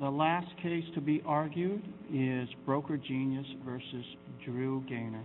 The last case to be argued is Broker Genius v. Drew Gaynor.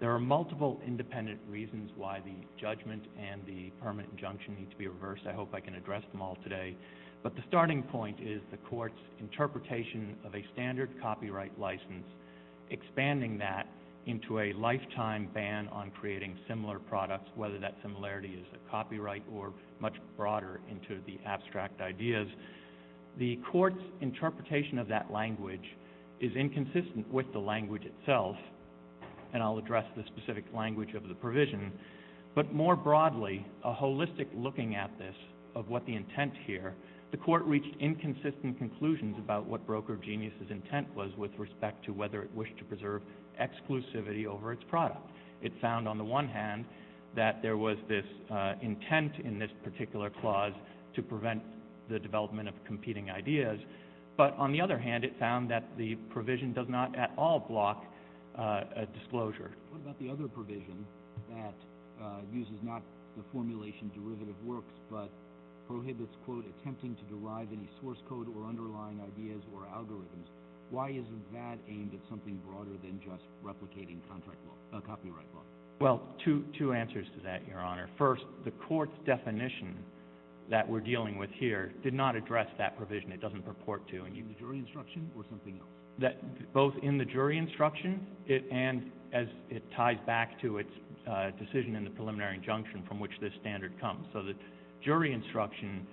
There are multiple independent reasons why the judgment and the permanent injunction need to be reversed. I hope I can address them all today. But the starting point is the court's interpretation of a standard copyright license, expanding that into a lifetime ban on creating similar products, whether that similarity is a copyright or much broader into the abstract ideas. The court's interpretation of that language is inconsistent with the language itself, and I'll address the specific language of the provision. But more broadly, a holistic looking at this of what the intent here, the court reached inconsistent conclusions about what Broker Genius' intent was with respect to whether it wished to preserve exclusivity over its product. It found, on the one hand, that there was this intent in this particular clause to prevent the development of competing ideas. But on the other hand, it found that What about the other provision that uses not the formulation derivative works, but prohibits quote, attempting to derive any source code or underlying ideas or algorithms? Why isn't that aimed at something broader than just replicating copyright law? Well, two answers to that, Your Honor. First, the court's definition that we're dealing with here did not address that provision. It doesn't purport to. In the jury instruction or something else? Both in the jury instruction and as it ties back to its decision in the preliminary injunction from which this standard comes. So the jury instruction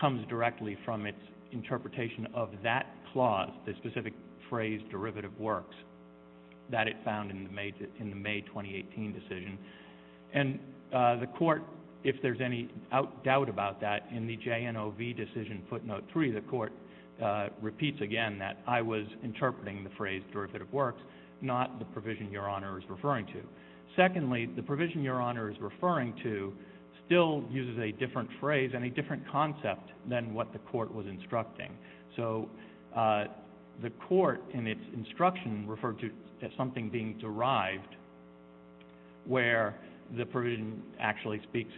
comes directly from its interpretation of that clause, the specific phrase derivative works, that it found in the May 2018 decision. And the court, if there's any doubt about that, in the JNOV decision footnote three, the court repeats again that I was interpreting the phrase derivative works, not the provision Your Honor is referring to. Secondly, the provision Your Honor is referring to still uses a different phrase and a different concept than what the court was instructing. So the court in its instruction referred to something being derived where the provision actually relates,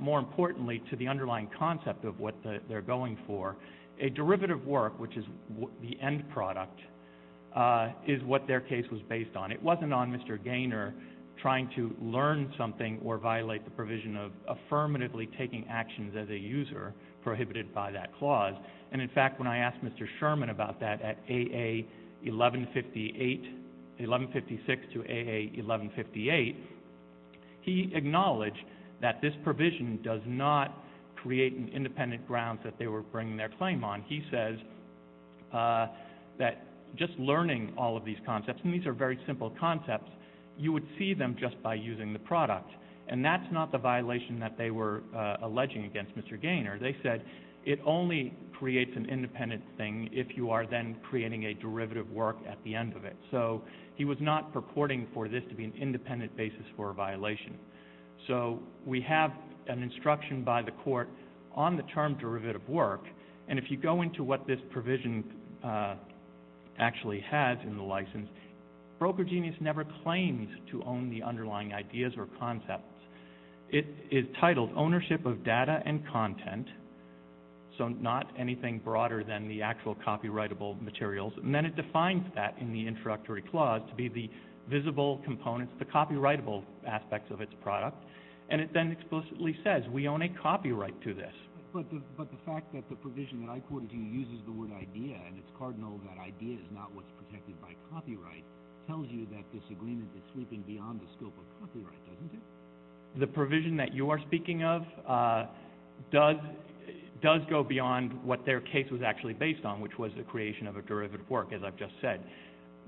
importantly, to the underlying concept of what they're going for. A derivative work, which is the end product, is what their case was based on. It wasn't on Mr. Gaynor trying to learn something or violate the provision of affirmatively taking actions as a user prohibited by that clause. And in fact, when I asked Mr. Sherman about that at A.A. 1156 to A.A. 1158, he acknowledged that this provision does not create an independent grounds that they were bringing their claim on. He says that just learning all of these concepts, and these are very simple concepts, you would see them just by using the product. And that's not the violation that they were alleging against Mr. Gaynor. They said it only creates an independent thing if you are then creating a derivative work at the end of it. So he was not purporting for this to be an independent basis for a violation. So we have an instruction by the court on the term derivative work. And if you go into what this provision actually has in the license, Broker Genius never claims to own the underlying ideas or concepts. It is titled ownership of data and content. So not anything broader than the actual copyrightable materials. And then it defines that in the introductory clause to be the visible components, the copyrightable aspects of its product. And it then explicitly says we own a copyright to this. But the fact that the provision that I quoted to you uses the word idea, and it's cardinal that idea is not what's protected by copyright, tells you that this agreement is sweeping beyond the scope of copyright, doesn't it? The provision that you are speaking of does go beyond what their case was actually based on, which was the creation of a derivative work, as I've just said.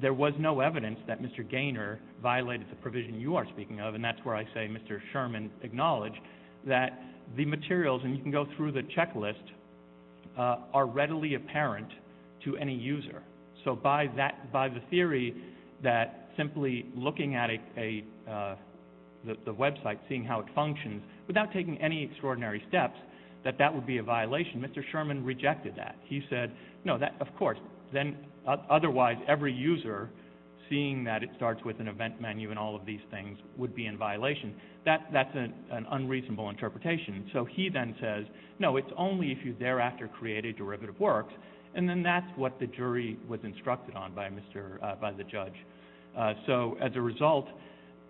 There was no evidence that Mr. Gaynor violated the provision you are speaking of, and that's where I say Mr. Sherman acknowledged that the materials, and you can go through the checklist, are readily apparent to any user. So by the theory that simply looking at the website, seeing how it functions, without taking any extraordinary steps, that that would be a violation, Mr. Sherman rejected that. He said, no, of course, then otherwise every user seeing that it starts with an event menu and all of these things would be in violation. That's an unreasonable interpretation. So he then says, no, it's only if you thereafter create a derivative work, and then that's what the jury was instructed on by the judge. So as a result,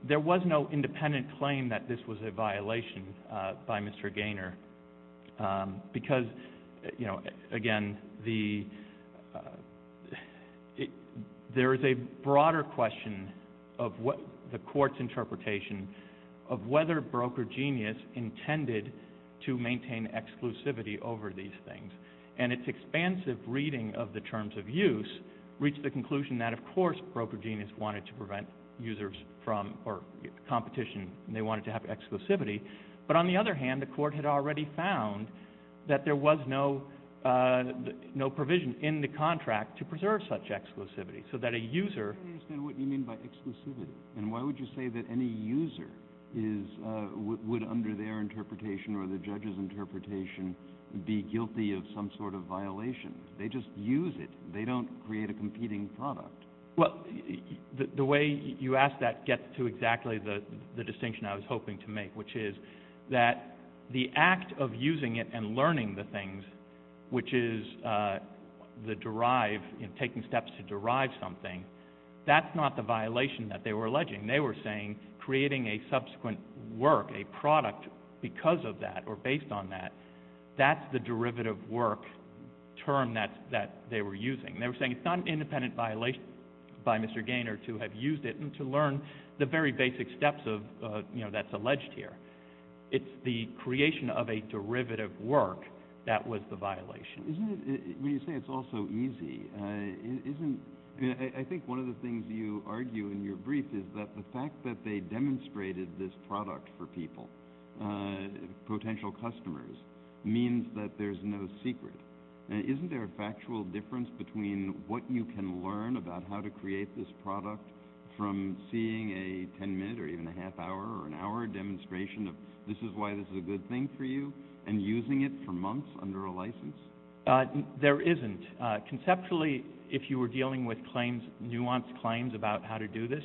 there was no independent claim that this was a violation by Mr. Gaynor, because, again, there is a tendency to maintain exclusivity over these things. And its expansive reading of the terms of use reached the conclusion that, of course, Broker Genius wanted to prevent users from or competition, and they wanted to have exclusivity. But on the other hand, the court had already found that there was no provision in the contract to preserve such exclusivity, so that a user... I don't understand what you mean by exclusivity, and why would you say that any user would under their interpretation or the judge's interpretation be guilty of some sort of violation? They just use it. They don't create a competing product. Well, the way you ask that gets to exactly the distinction I was hoping to make, which is that the act of using it and learning the things, which is the derive, taking steps to derive something, that's not the violation that they were alleging. They were saying creating a subsequent work, a product, because of that or based on that, that's the derivative work term that they were using. They were saying it's not an independent violation by Mr. Gaynor to have used it and to learn the very basic steps that's alleged here. It's the creation of a derivative work that was the violation. When you say it's all so easy, isn't... I think one of the things you argue in your argument is that having demonstrated this product for people, potential customers, means that there's no secret. Isn't there a factual difference between what you can learn about how to create this product from seeing a 10 minute or even a half hour or an hour demonstration of this is why this is a good thing for you and using it for months under a license? There isn't. Conceptually, if you were dealing with claims, nuanced claims about how to do this,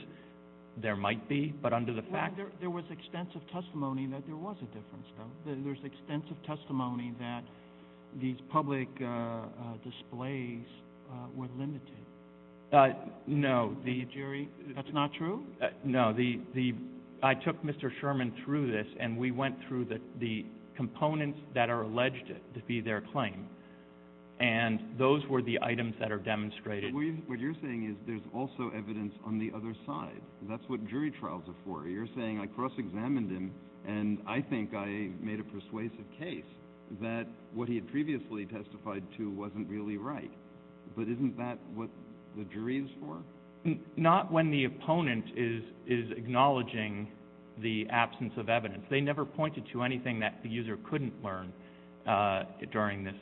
there might be, but under the fact... There was extensive testimony that there was a difference though. There's extensive testimony that these public displays were limited. No. The jury, that's not true? No. I took Mr. Sherman through this and we went through the components that are alleged to be their claim and those were the items that are demonstrated. What you're saying is there's also evidence on the other side. That's what jury trials are for. You're saying I cross-examined him and I think I made a persuasive case that what he had previously testified to wasn't really right, but isn't that what the jury is for? Not when the opponent is acknowledging the absence of evidence. They never pointed to anything that the user couldn't learn during this.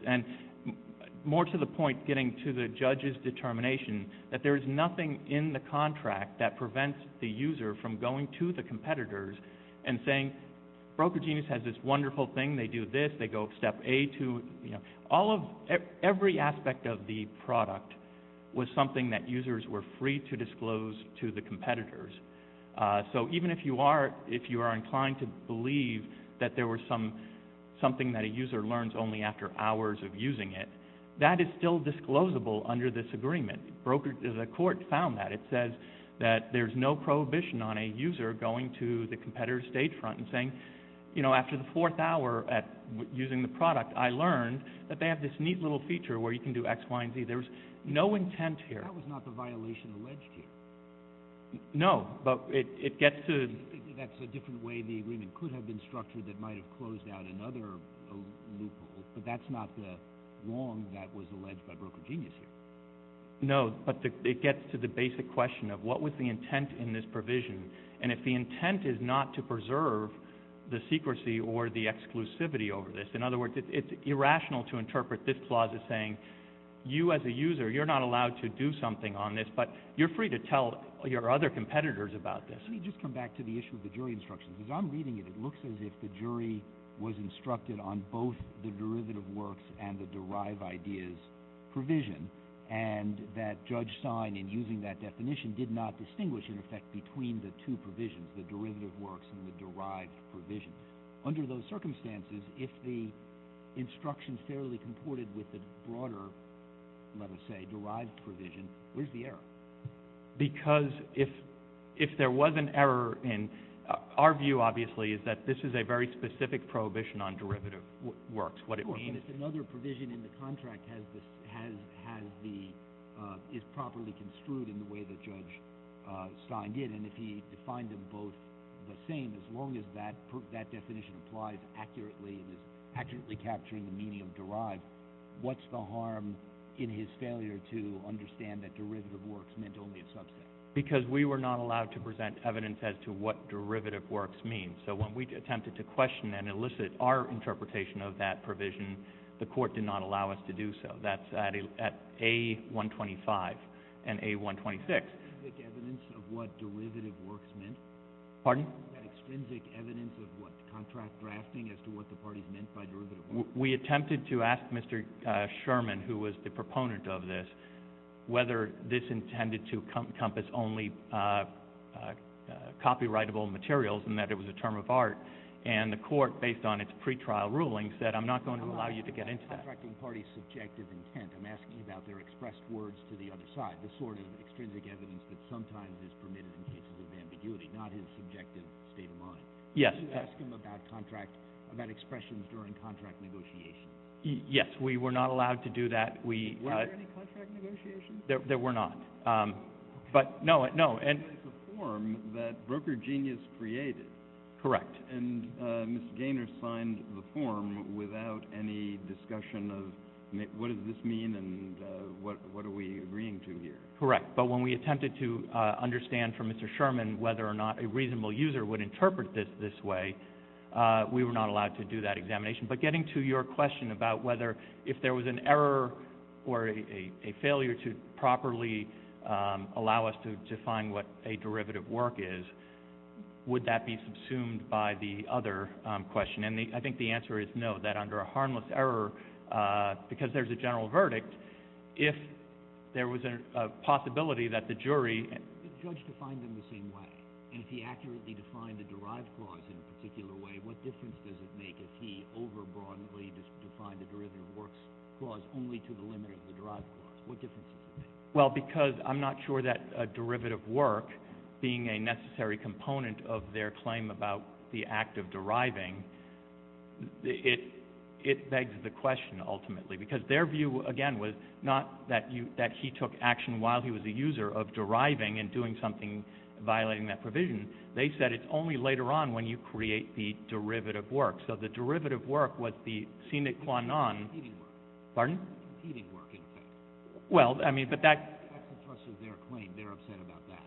More to the point, getting to the judge's determination that there is nothing in the contract that prevents the user from going to the competitors and saying, broker genius has this wonderful thing, they do this, they go step A to... Every aspect of the product was something that users were free to disclose to the competitors. Even if you are inclined to believe that there was something that a user learns only after hours of using it, that is still disclosable under this agreement. The court found that. It says that there's no prohibition on a user going to the competitor's state front and saying, after the fourth hour using the product, I learned that they have this neat little feature where you can do X, Y, and Z. There's no intent here. That was not the violation alleged here. No, but it gets to... That's a different way the agreement could have been structured that might have closed out another loophole, but that's not the wrong that was alleged by broker genius here. No, but it gets to the basic question of what was the intent in this provision, and if the intent is not to preserve the secrecy or the exclusivity over this, in other words, it's irrational to interpret this clause as saying, you as a user, you're not allowed to do something on this, but you're free to tell your other competitors about this. Let me just come back to the issue of the jury instructions. As I'm reading it, it looks as if the jury was instructed on both the derivative works and the derived ideas provision, and that Judge Stein, in using that definition, did not distinguish, in effect, between the two provisions, the derivative works and the derived provision. Under those circumstances, if the instructions fairly comported with the broader, let us say, derived provision, where's the error? Because if there was an error, and our view, obviously, is that this is a very specific prohibition on derivative works, what it was. If another provision in the contract is properly construed in the way that Judge Stein did, and if he defined them both the same, as long as that definition applies accurately and is accurately capturing the meaning of derived, what's the harm in his failure to understand that derivative works meant only a subset? Because we were not allowed to present evidence as to what derivative works mean. So when we attempted to question and elicit our interpretation of that provision, the court did not allow us to do so. That's at A125 and A126. Was there any extrinsic evidence of what derivative works meant? Pardon? Was there any extrinsic evidence of what the contract drafting as to what the parties meant by derivative works? We attempted to ask Mr. Sherman, who was the proponent of this, whether this intended to encompass only copyrightable materials, and that it was a term of art. And the court, based on its pretrial ruling, said, I'm not going to allow you to get into that. I'm asking about the contracting party's subjective intent. I'm asking about their expressed words to the other side, the sort of extrinsic evidence that sometimes is permitted in cases of ambiguity, not his subjective state of mind. Yes. Did you ask him about contract, about expressions during contract negotiations? Yes, we were not allowed to do that. Were there any contract negotiations? There were not. But no, no. But it's a form that Broker Genius created. Correct. And Mr. Gaynor signed the form without any discussion of what does this mean and what are we agreeing to here? Correct. But when we attempted to understand from Mr. Sherman whether or not a reasonable user would interpret this this way, we were not allowed to do that examination. But getting to your question about whether if there was an error or a failure to properly allow us to define what a derivative work is, would that be subsumed by the other question? And I think the answer is no, that under a harmless error, because there's a general verdict, if there was a possibility that the jury... And if he accurately defined the derived clause in a particular way, what difference does it make if he over-broadly defined the derivative works clause only to the limit of the derived clause? What difference does it make? Well, because I'm not sure that a derivative work, being a necessary component of their claim about the act of deriving, it begs the question ultimately. Because their view, again, was not that he took action while he was a user of deriving and doing something violating that provision. They said it's only later on when you create the derivative work. So the derivative work was the sine qua non... Competing work. Pardon? Competing work, in effect. Well, I mean, but that... That's the thrust of their claim. They're upset about that.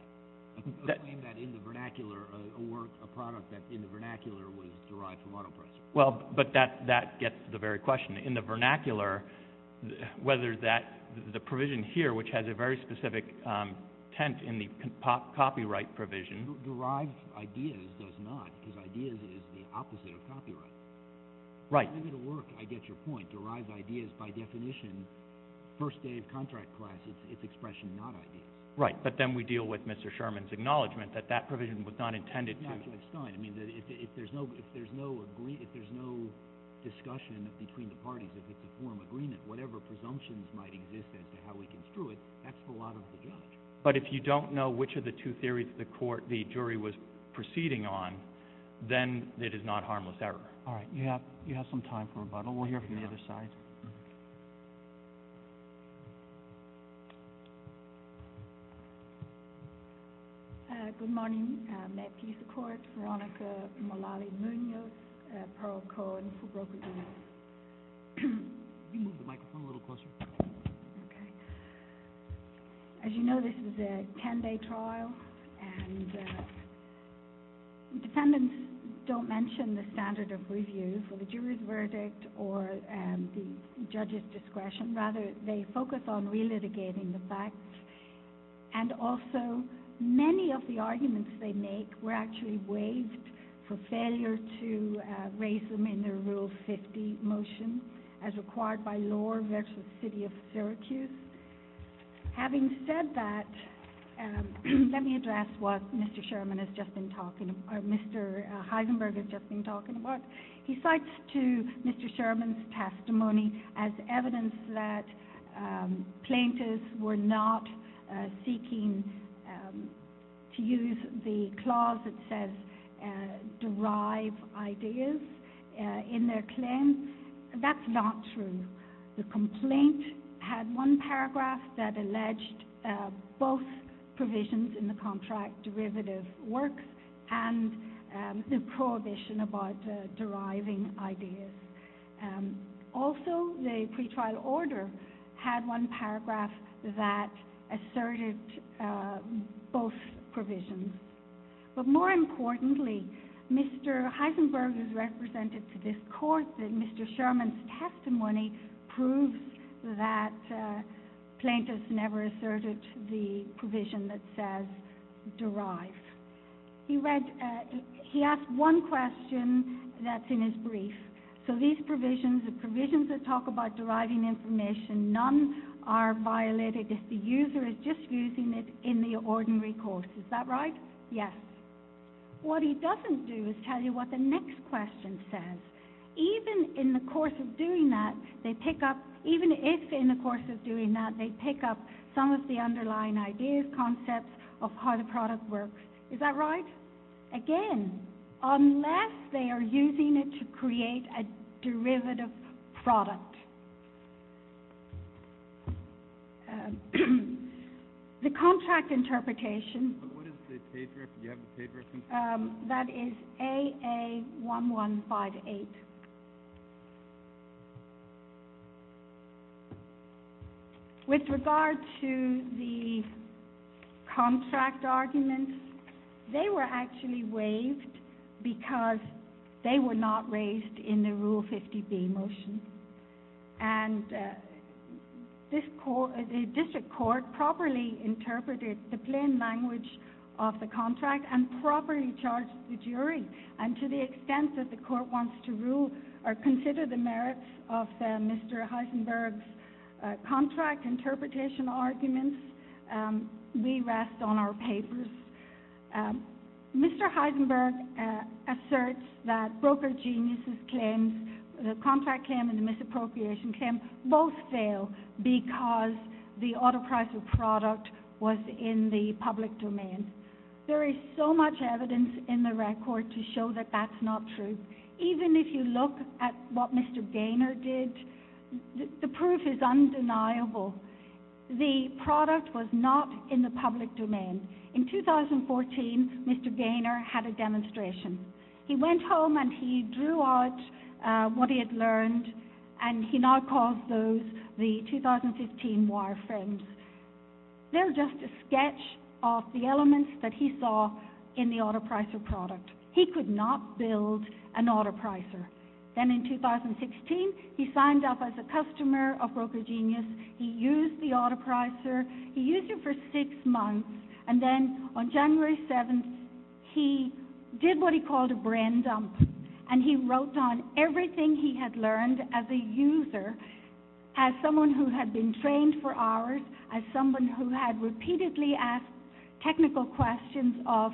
They claim that in the vernacular, a work, a product that in the vernacular was derived from autopressure. Well, but that gets to the very question. In the vernacular, whether that, the provision here, which has a very specific tent in the copyright provision... Derived ideas does not, because ideas is the opposite of copyright. Right. Derivative work, I get your point. Derived ideas, by definition, first day of contract class, it's expression not ideas. Right. But then we deal with Mr. Sherman's acknowledgement that that provision was not intended to... It's not Judge Stein. I mean, if there's no discussion between the parties, if it's a lot of the judge. But if you don't know which of the two theories of the court the jury was proceeding on, then it is not harmless error. All right. You have some time for rebuttal. We'll hear from the other side. Good morning. Matt Pease, the court. Veronica Molale-Munoz, Pearl Cohen, for broker jury. Can you move the microphone a little closer? Okay. As you know, this is a 10-day trial, and defendants don't mention the standard of review for the jury's verdict or the judge's discretion. Rather, they focus on relitigating the facts. And also, many of the arguments they make were actually waived for failure to raise them in their Rule 50 motion, as required by law versus City of Syracuse. Having said that, let me address what Mr. Sherman has just been talking about, or Mr. Heisenberg has just been talking about. He cites to Mr. Sherman's testimony as evidence that plaintiffs were not seeking to use the clause that says, derive ideas in their claim. That's not true. The complaint had one paragraph that alleged both provisions in the contract derivative works and the prohibition about deriving ideas. Also, the pretrial order had one paragraph that asserted both provisions. But more importantly, Mr. Heisenberg has represented to this court that Mr. Sherman's testimony proves that plaintiffs never asserted the derive. He asked one question that's in his brief. So these provisions, the provisions that talk about deriving information, none are violated if the user is just using it in the ordinary course. Is that right? Yes. What he doesn't do is tell you what the next question says. Even in the course of doing that, they pick up, even if in the course of doing that, they pick up that the derivative works. Is that right? Again, unless they are using it to create a derivative product. The contract interpretation, that is AA1158. With regard to the contract argument, they were actually waived because they were not raised in the Rule 50B motion. And the district court properly interpreted the plain language of the contract and properly charged the jury. And to the extent that the court wants to consider the merits of Mr. Heisenberg's contract interpretation arguments, we rest on our papers. Mr. Heisenberg asserts that broker geniuses' claims, the contract claim and the misappropriation claim, both fail because the auto-pricer product was in the public domain. There is so much evidence in the record to show that that's not true. Even if you look at what Mr. Gaynor did, the proof is undeniable. The product was not in the public domain. In 2014, Mr. Gaynor had a demonstration. He went home and he drew out what he had learned and he now calls those the 2015 wire frames. They're just a sketch of the elements that he saw in the auto-pricer product. He could not build an auto-pricer. Then in 2016, he signed up as a customer of Broker Genius. He used the auto-pricer. He used it for six months. And then on January 7th, he did what he called a brain dump. And he wrote down everything he had learned as a user, as someone who had been trained for hours, as someone who had repeatedly asked technical questions of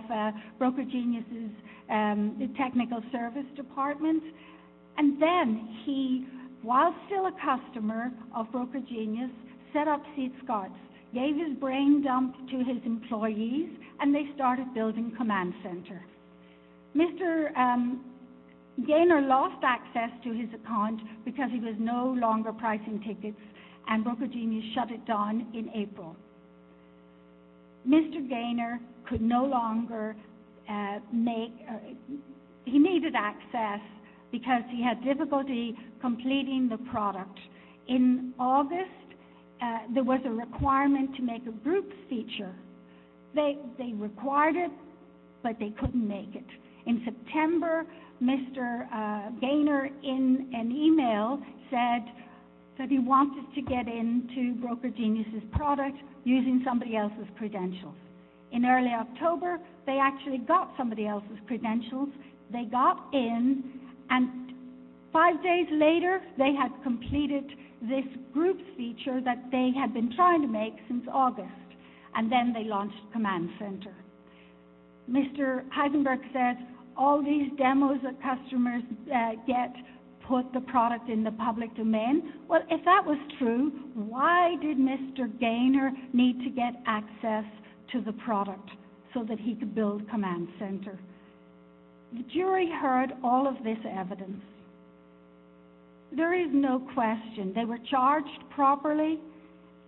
Broker Genius's technical service department. And then he, while still a customer of Broker Genius, set up SeedScots, gave his brain dump to his employees, and they started building Command Center. Mr. Gaynor lost access to his account because he was no longer pricing tickets, and Broker Genius shut it down in April. Mr. Gaynor could no longer make, he needed access because he had difficulty completing the product. In August, there was a requirement to make a group feature. They required it, but they couldn't make it. In September, Mr. Gaynor, in an email, said he wanted to get into Broker Genius's product using somebody else's credentials. In early October, they actually got somebody else's credentials. They got in, and five days later, they had completed this group feature that they had been trying to make since August. And then they launched Command Center. Mr. Heisenberg said, all these demos that customers get put the product in the public domain. Well, if that was true, why did Mr. Gaynor need to get access to the product so that he could build Command Center? The jury heard all of this evidence. There is no question. They were charged properly.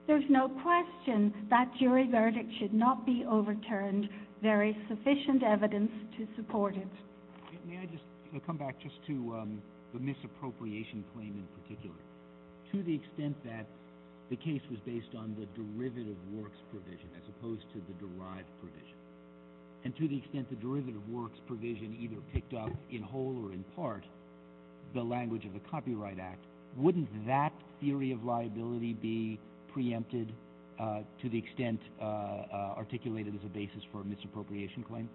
There's no question that jury verdict should not be overturned. There is sufficient evidence to support it. May I just come back just to the misappropriation claim in particular? To the extent that the case was based on the derivative works provision as opposed to the derived provision, and to the extent the derivative works provision either picked up in whole or in part the language of the Copyright Act, wouldn't that theory of liability be preempted to the extent articulated as a basis for a misappropriation claim?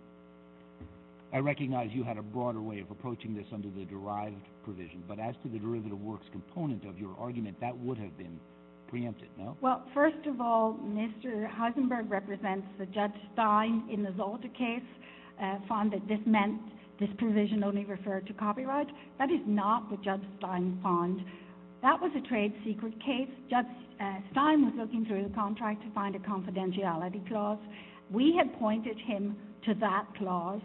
I recognize you had a broader way of approaching this under the derived provision, but as to the derivative works component of your argument, that would have been preempted, no? Well, first of all, Mr. Heisenberg represents the Judge Stein in the Zolta case, found that this meant this provision only referred to the Stein fund. That was a trade secret case. Judge Stein was looking through the contract to find a confidentiality clause. We had pointed him to that clause,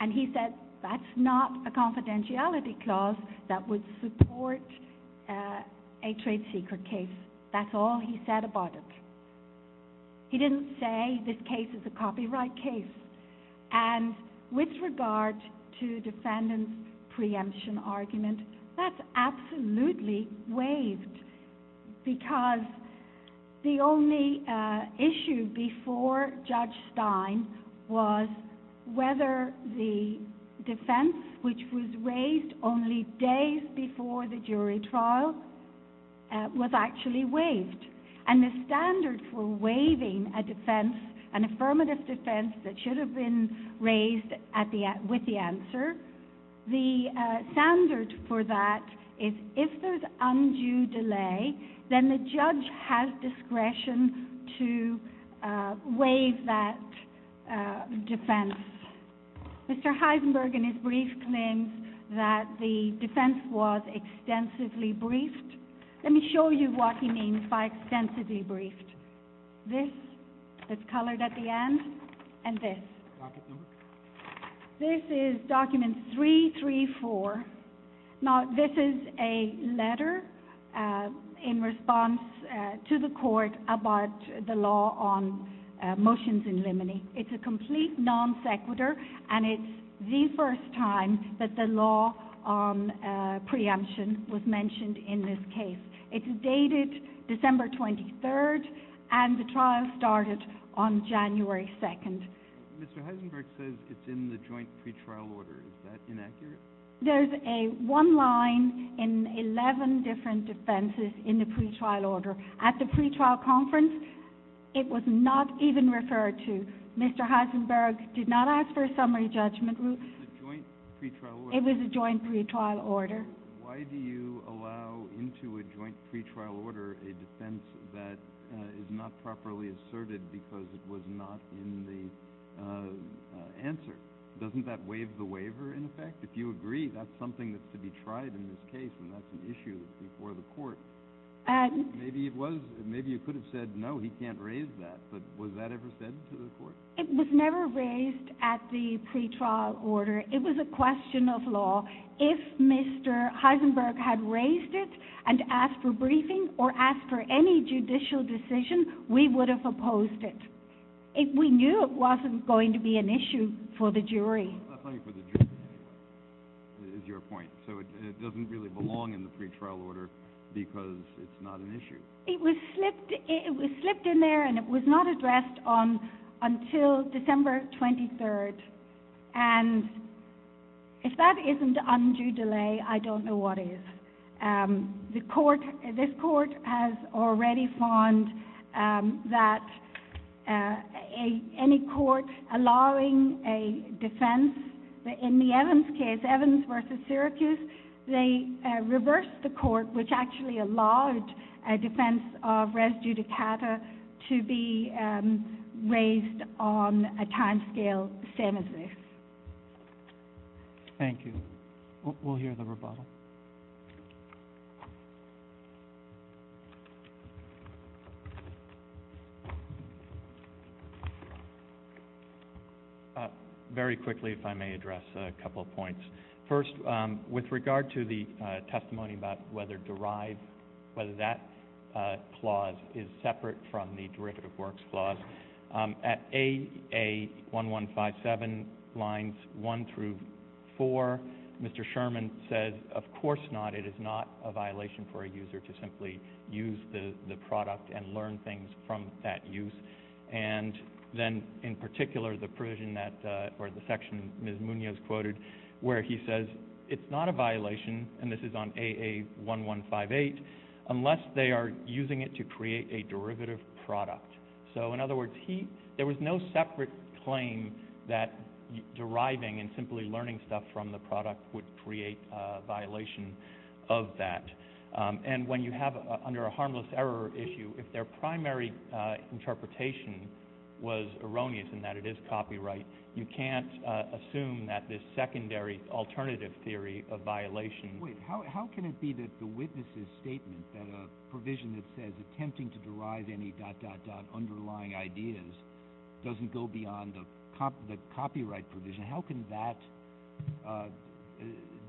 and he said, that's not a confidentiality clause that would support a trade secret case. That's all he said about it. He didn't say this case is a copyright case. And with regard to defendant's preemption argument, that's absolutely waived, because the only issue before Judge Stein was whether the defense, which was raised only days before the jury trial, was actually waived. And the standard for waiving a defense, an affirmative defense that should have been raised with the answer, the standard for that is if there's undue delay, then the judge has discretion to waive that defense. Mr. Heisenberg in his brief claims that the defense was extensively briefed. Let me show you what he means by extensively briefed. This that's colored at the end, and this. This is document 334. Now this is a letter in response to the court about the law on motions in limine. It's a complete non sequitur, and it's the first time that the law on preemption was mentioned in this case. It's dated December 23rd, and the trial started on January 2nd. Mr. Heisenberg says it's in the joint pretrial order. Is that inaccurate? There's a one line in 11 different defenses in the pretrial order. At the pretrial conference, it was not even referred to. Mr. Heisenberg did not ask for a summary judgment. It was a joint pretrial order. Why do you allow into a joint pretrial order a defense that is not properly asserted because it was not in the answer? Doesn't that waive the waiver in effect? If you agree, that's something that's to be tried in this case, and that's an issue before the court. Maybe you could have said, no, he can't raise that, but was that ever said to the court? It was never raised at the pretrial order. It was a question of law. If Mr. Heisenberg had raised it and asked for briefing or asked for any judicial decision, we would have opposed it. We knew it wasn't going to be an issue for the jury. I thought you said the jury is your point, so it doesn't really belong in the pretrial order because it's not an issue. It was slipped in there, and it was not addressed until December 23rd. If that isn't undue delay, I don't know what is. This court has already found that any court allowing a defense, in the Evans case, Evans v. Syracuse, they reversed the court, which actually allowed a defense of res judicata to be raised on a timescale the same as this. Thank you. We'll hear the rebuttal. Very quickly, if I may address a couple of points. First, with regard to the testimony about whether derive, whether that clause is separate from the derivative works clause, at AA1157 lines 1 through 4, Mr. Sherman says, of course not, it is not a violation for a judge to simply use the product and learn things from that use. And then, in particular, the provision that, or the section Ms. Munoz quoted, where he says it's not a violation, and this is on AA1158, unless they are using it to create a derivative product. So, in other words, there was no separate claim that deriving and simply learning stuff from the under a harmless error issue, if their primary interpretation was erroneous in that it is copyright, you can't assume that this secondary alternative theory of violation Wait, how can it be that the witness's statement that a provision that says attempting to derive any dot, dot, dot underlying ideas doesn't go beyond the copyright provision? How can that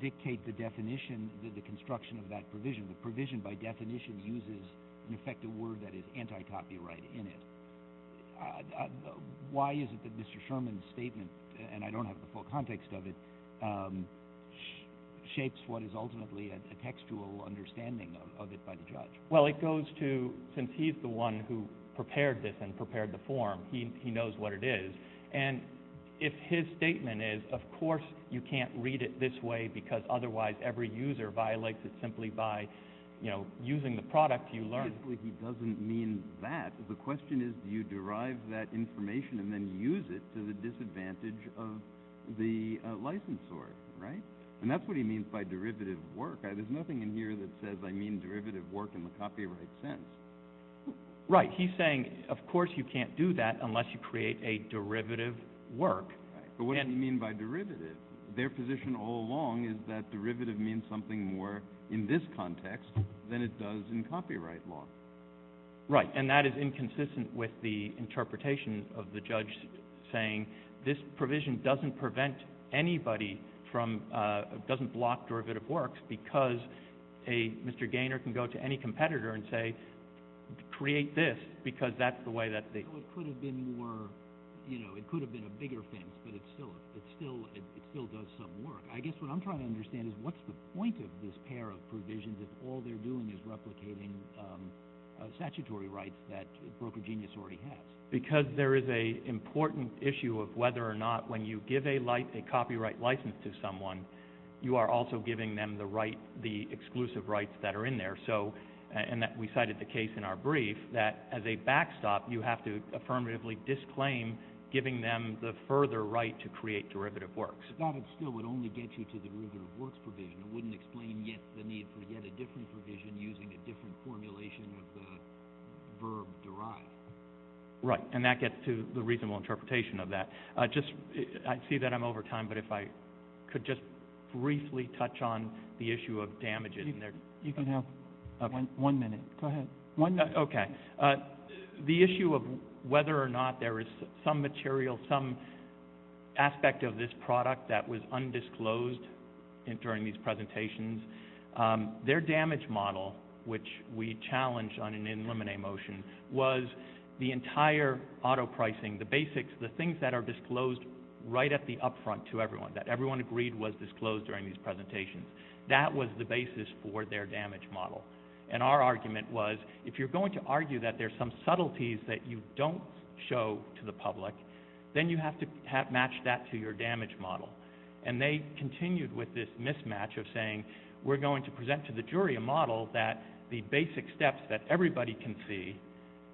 dictate the definition, the construction of that provision? The provision by definition uses an effective word that is anti-copyright in it. Why is it that Mr. Sherman's statement, and I don't have the full context of it, shapes what is ultimately a textual understanding of it by the judge? Well, it goes to, since he's the one who prepared this and prepared the form, he knows what it is, and if his statement is, of course you can't read it this way because otherwise every user violates it simply by, you know, using the product you learned. Basically, he doesn't mean that. The question is, do you derive that information and then use it to the disadvantage of the licensor, right? And that's what he means by derivative work. There's nothing in here that says I mean derivative work in the copyright sense. Right, he's saying of course you can't do that unless you create a derivative work. Right, but what does he mean by derivative? Their position all along is that derivative means something more in this context than it does in copyright law. Right, and that is inconsistent with the interpretation of the judge saying this provision doesn't prevent anybody from, doesn't block derivative works because a, Mr. Gaynor can go to any competitor and say create this because that's the way that they. It could have been more, you know, it could have been a bigger fence, but it still does some work. I guess what I'm trying to understand is what's the point of this pair of provisions if all they're doing is replicating statutory rights that Broker Genius already has? Because there is a important issue of whether or not when you give a copyright license to someone, you are also giving them the right, the exclusive rights that are in there. So, and that we cited the case in our brief that as a backstop you have to affirmatively disclaim giving them the further right to create derivative works. But that still would only get you to the derivative works provision. It wouldn't explain yet the need for yet a different provision using a different formulation of the verb derive. Right, and that gets to the reasonable interpretation of that. Just, I see that I'm over time, but if I could just briefly touch on the issue of damages. You can have one minute. Go ahead. One minute. Okay. The issue of whether or not there is some material, some aspect of this product that was undisclosed during these presentations, their damage model, which we challenged on an in limine motion, was the entire auto pricing, the basics, the things that are disclosed right at the up front to everyone, that everyone agreed was disclosed during these presentations. That was the basis for their damage model. And our argument was, if you're going to argue that there's some subtleties that you don't show to the public, then you have to match that to your damage model. And they continued with this mismatch of saying, we're going to present to the jury a model that the basic steps that everybody can see,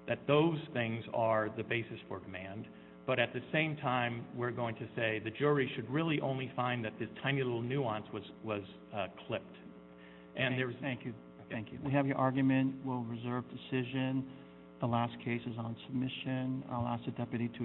that those things are the basis for demand. But at the same time, we're going to say the jury should really only find that this tiny little nuance was clipped. Thank you. Thank you. We have your argument. We'll reserve decision. The last case is on submission. I'll ask the deputy to adjourn. Thank you.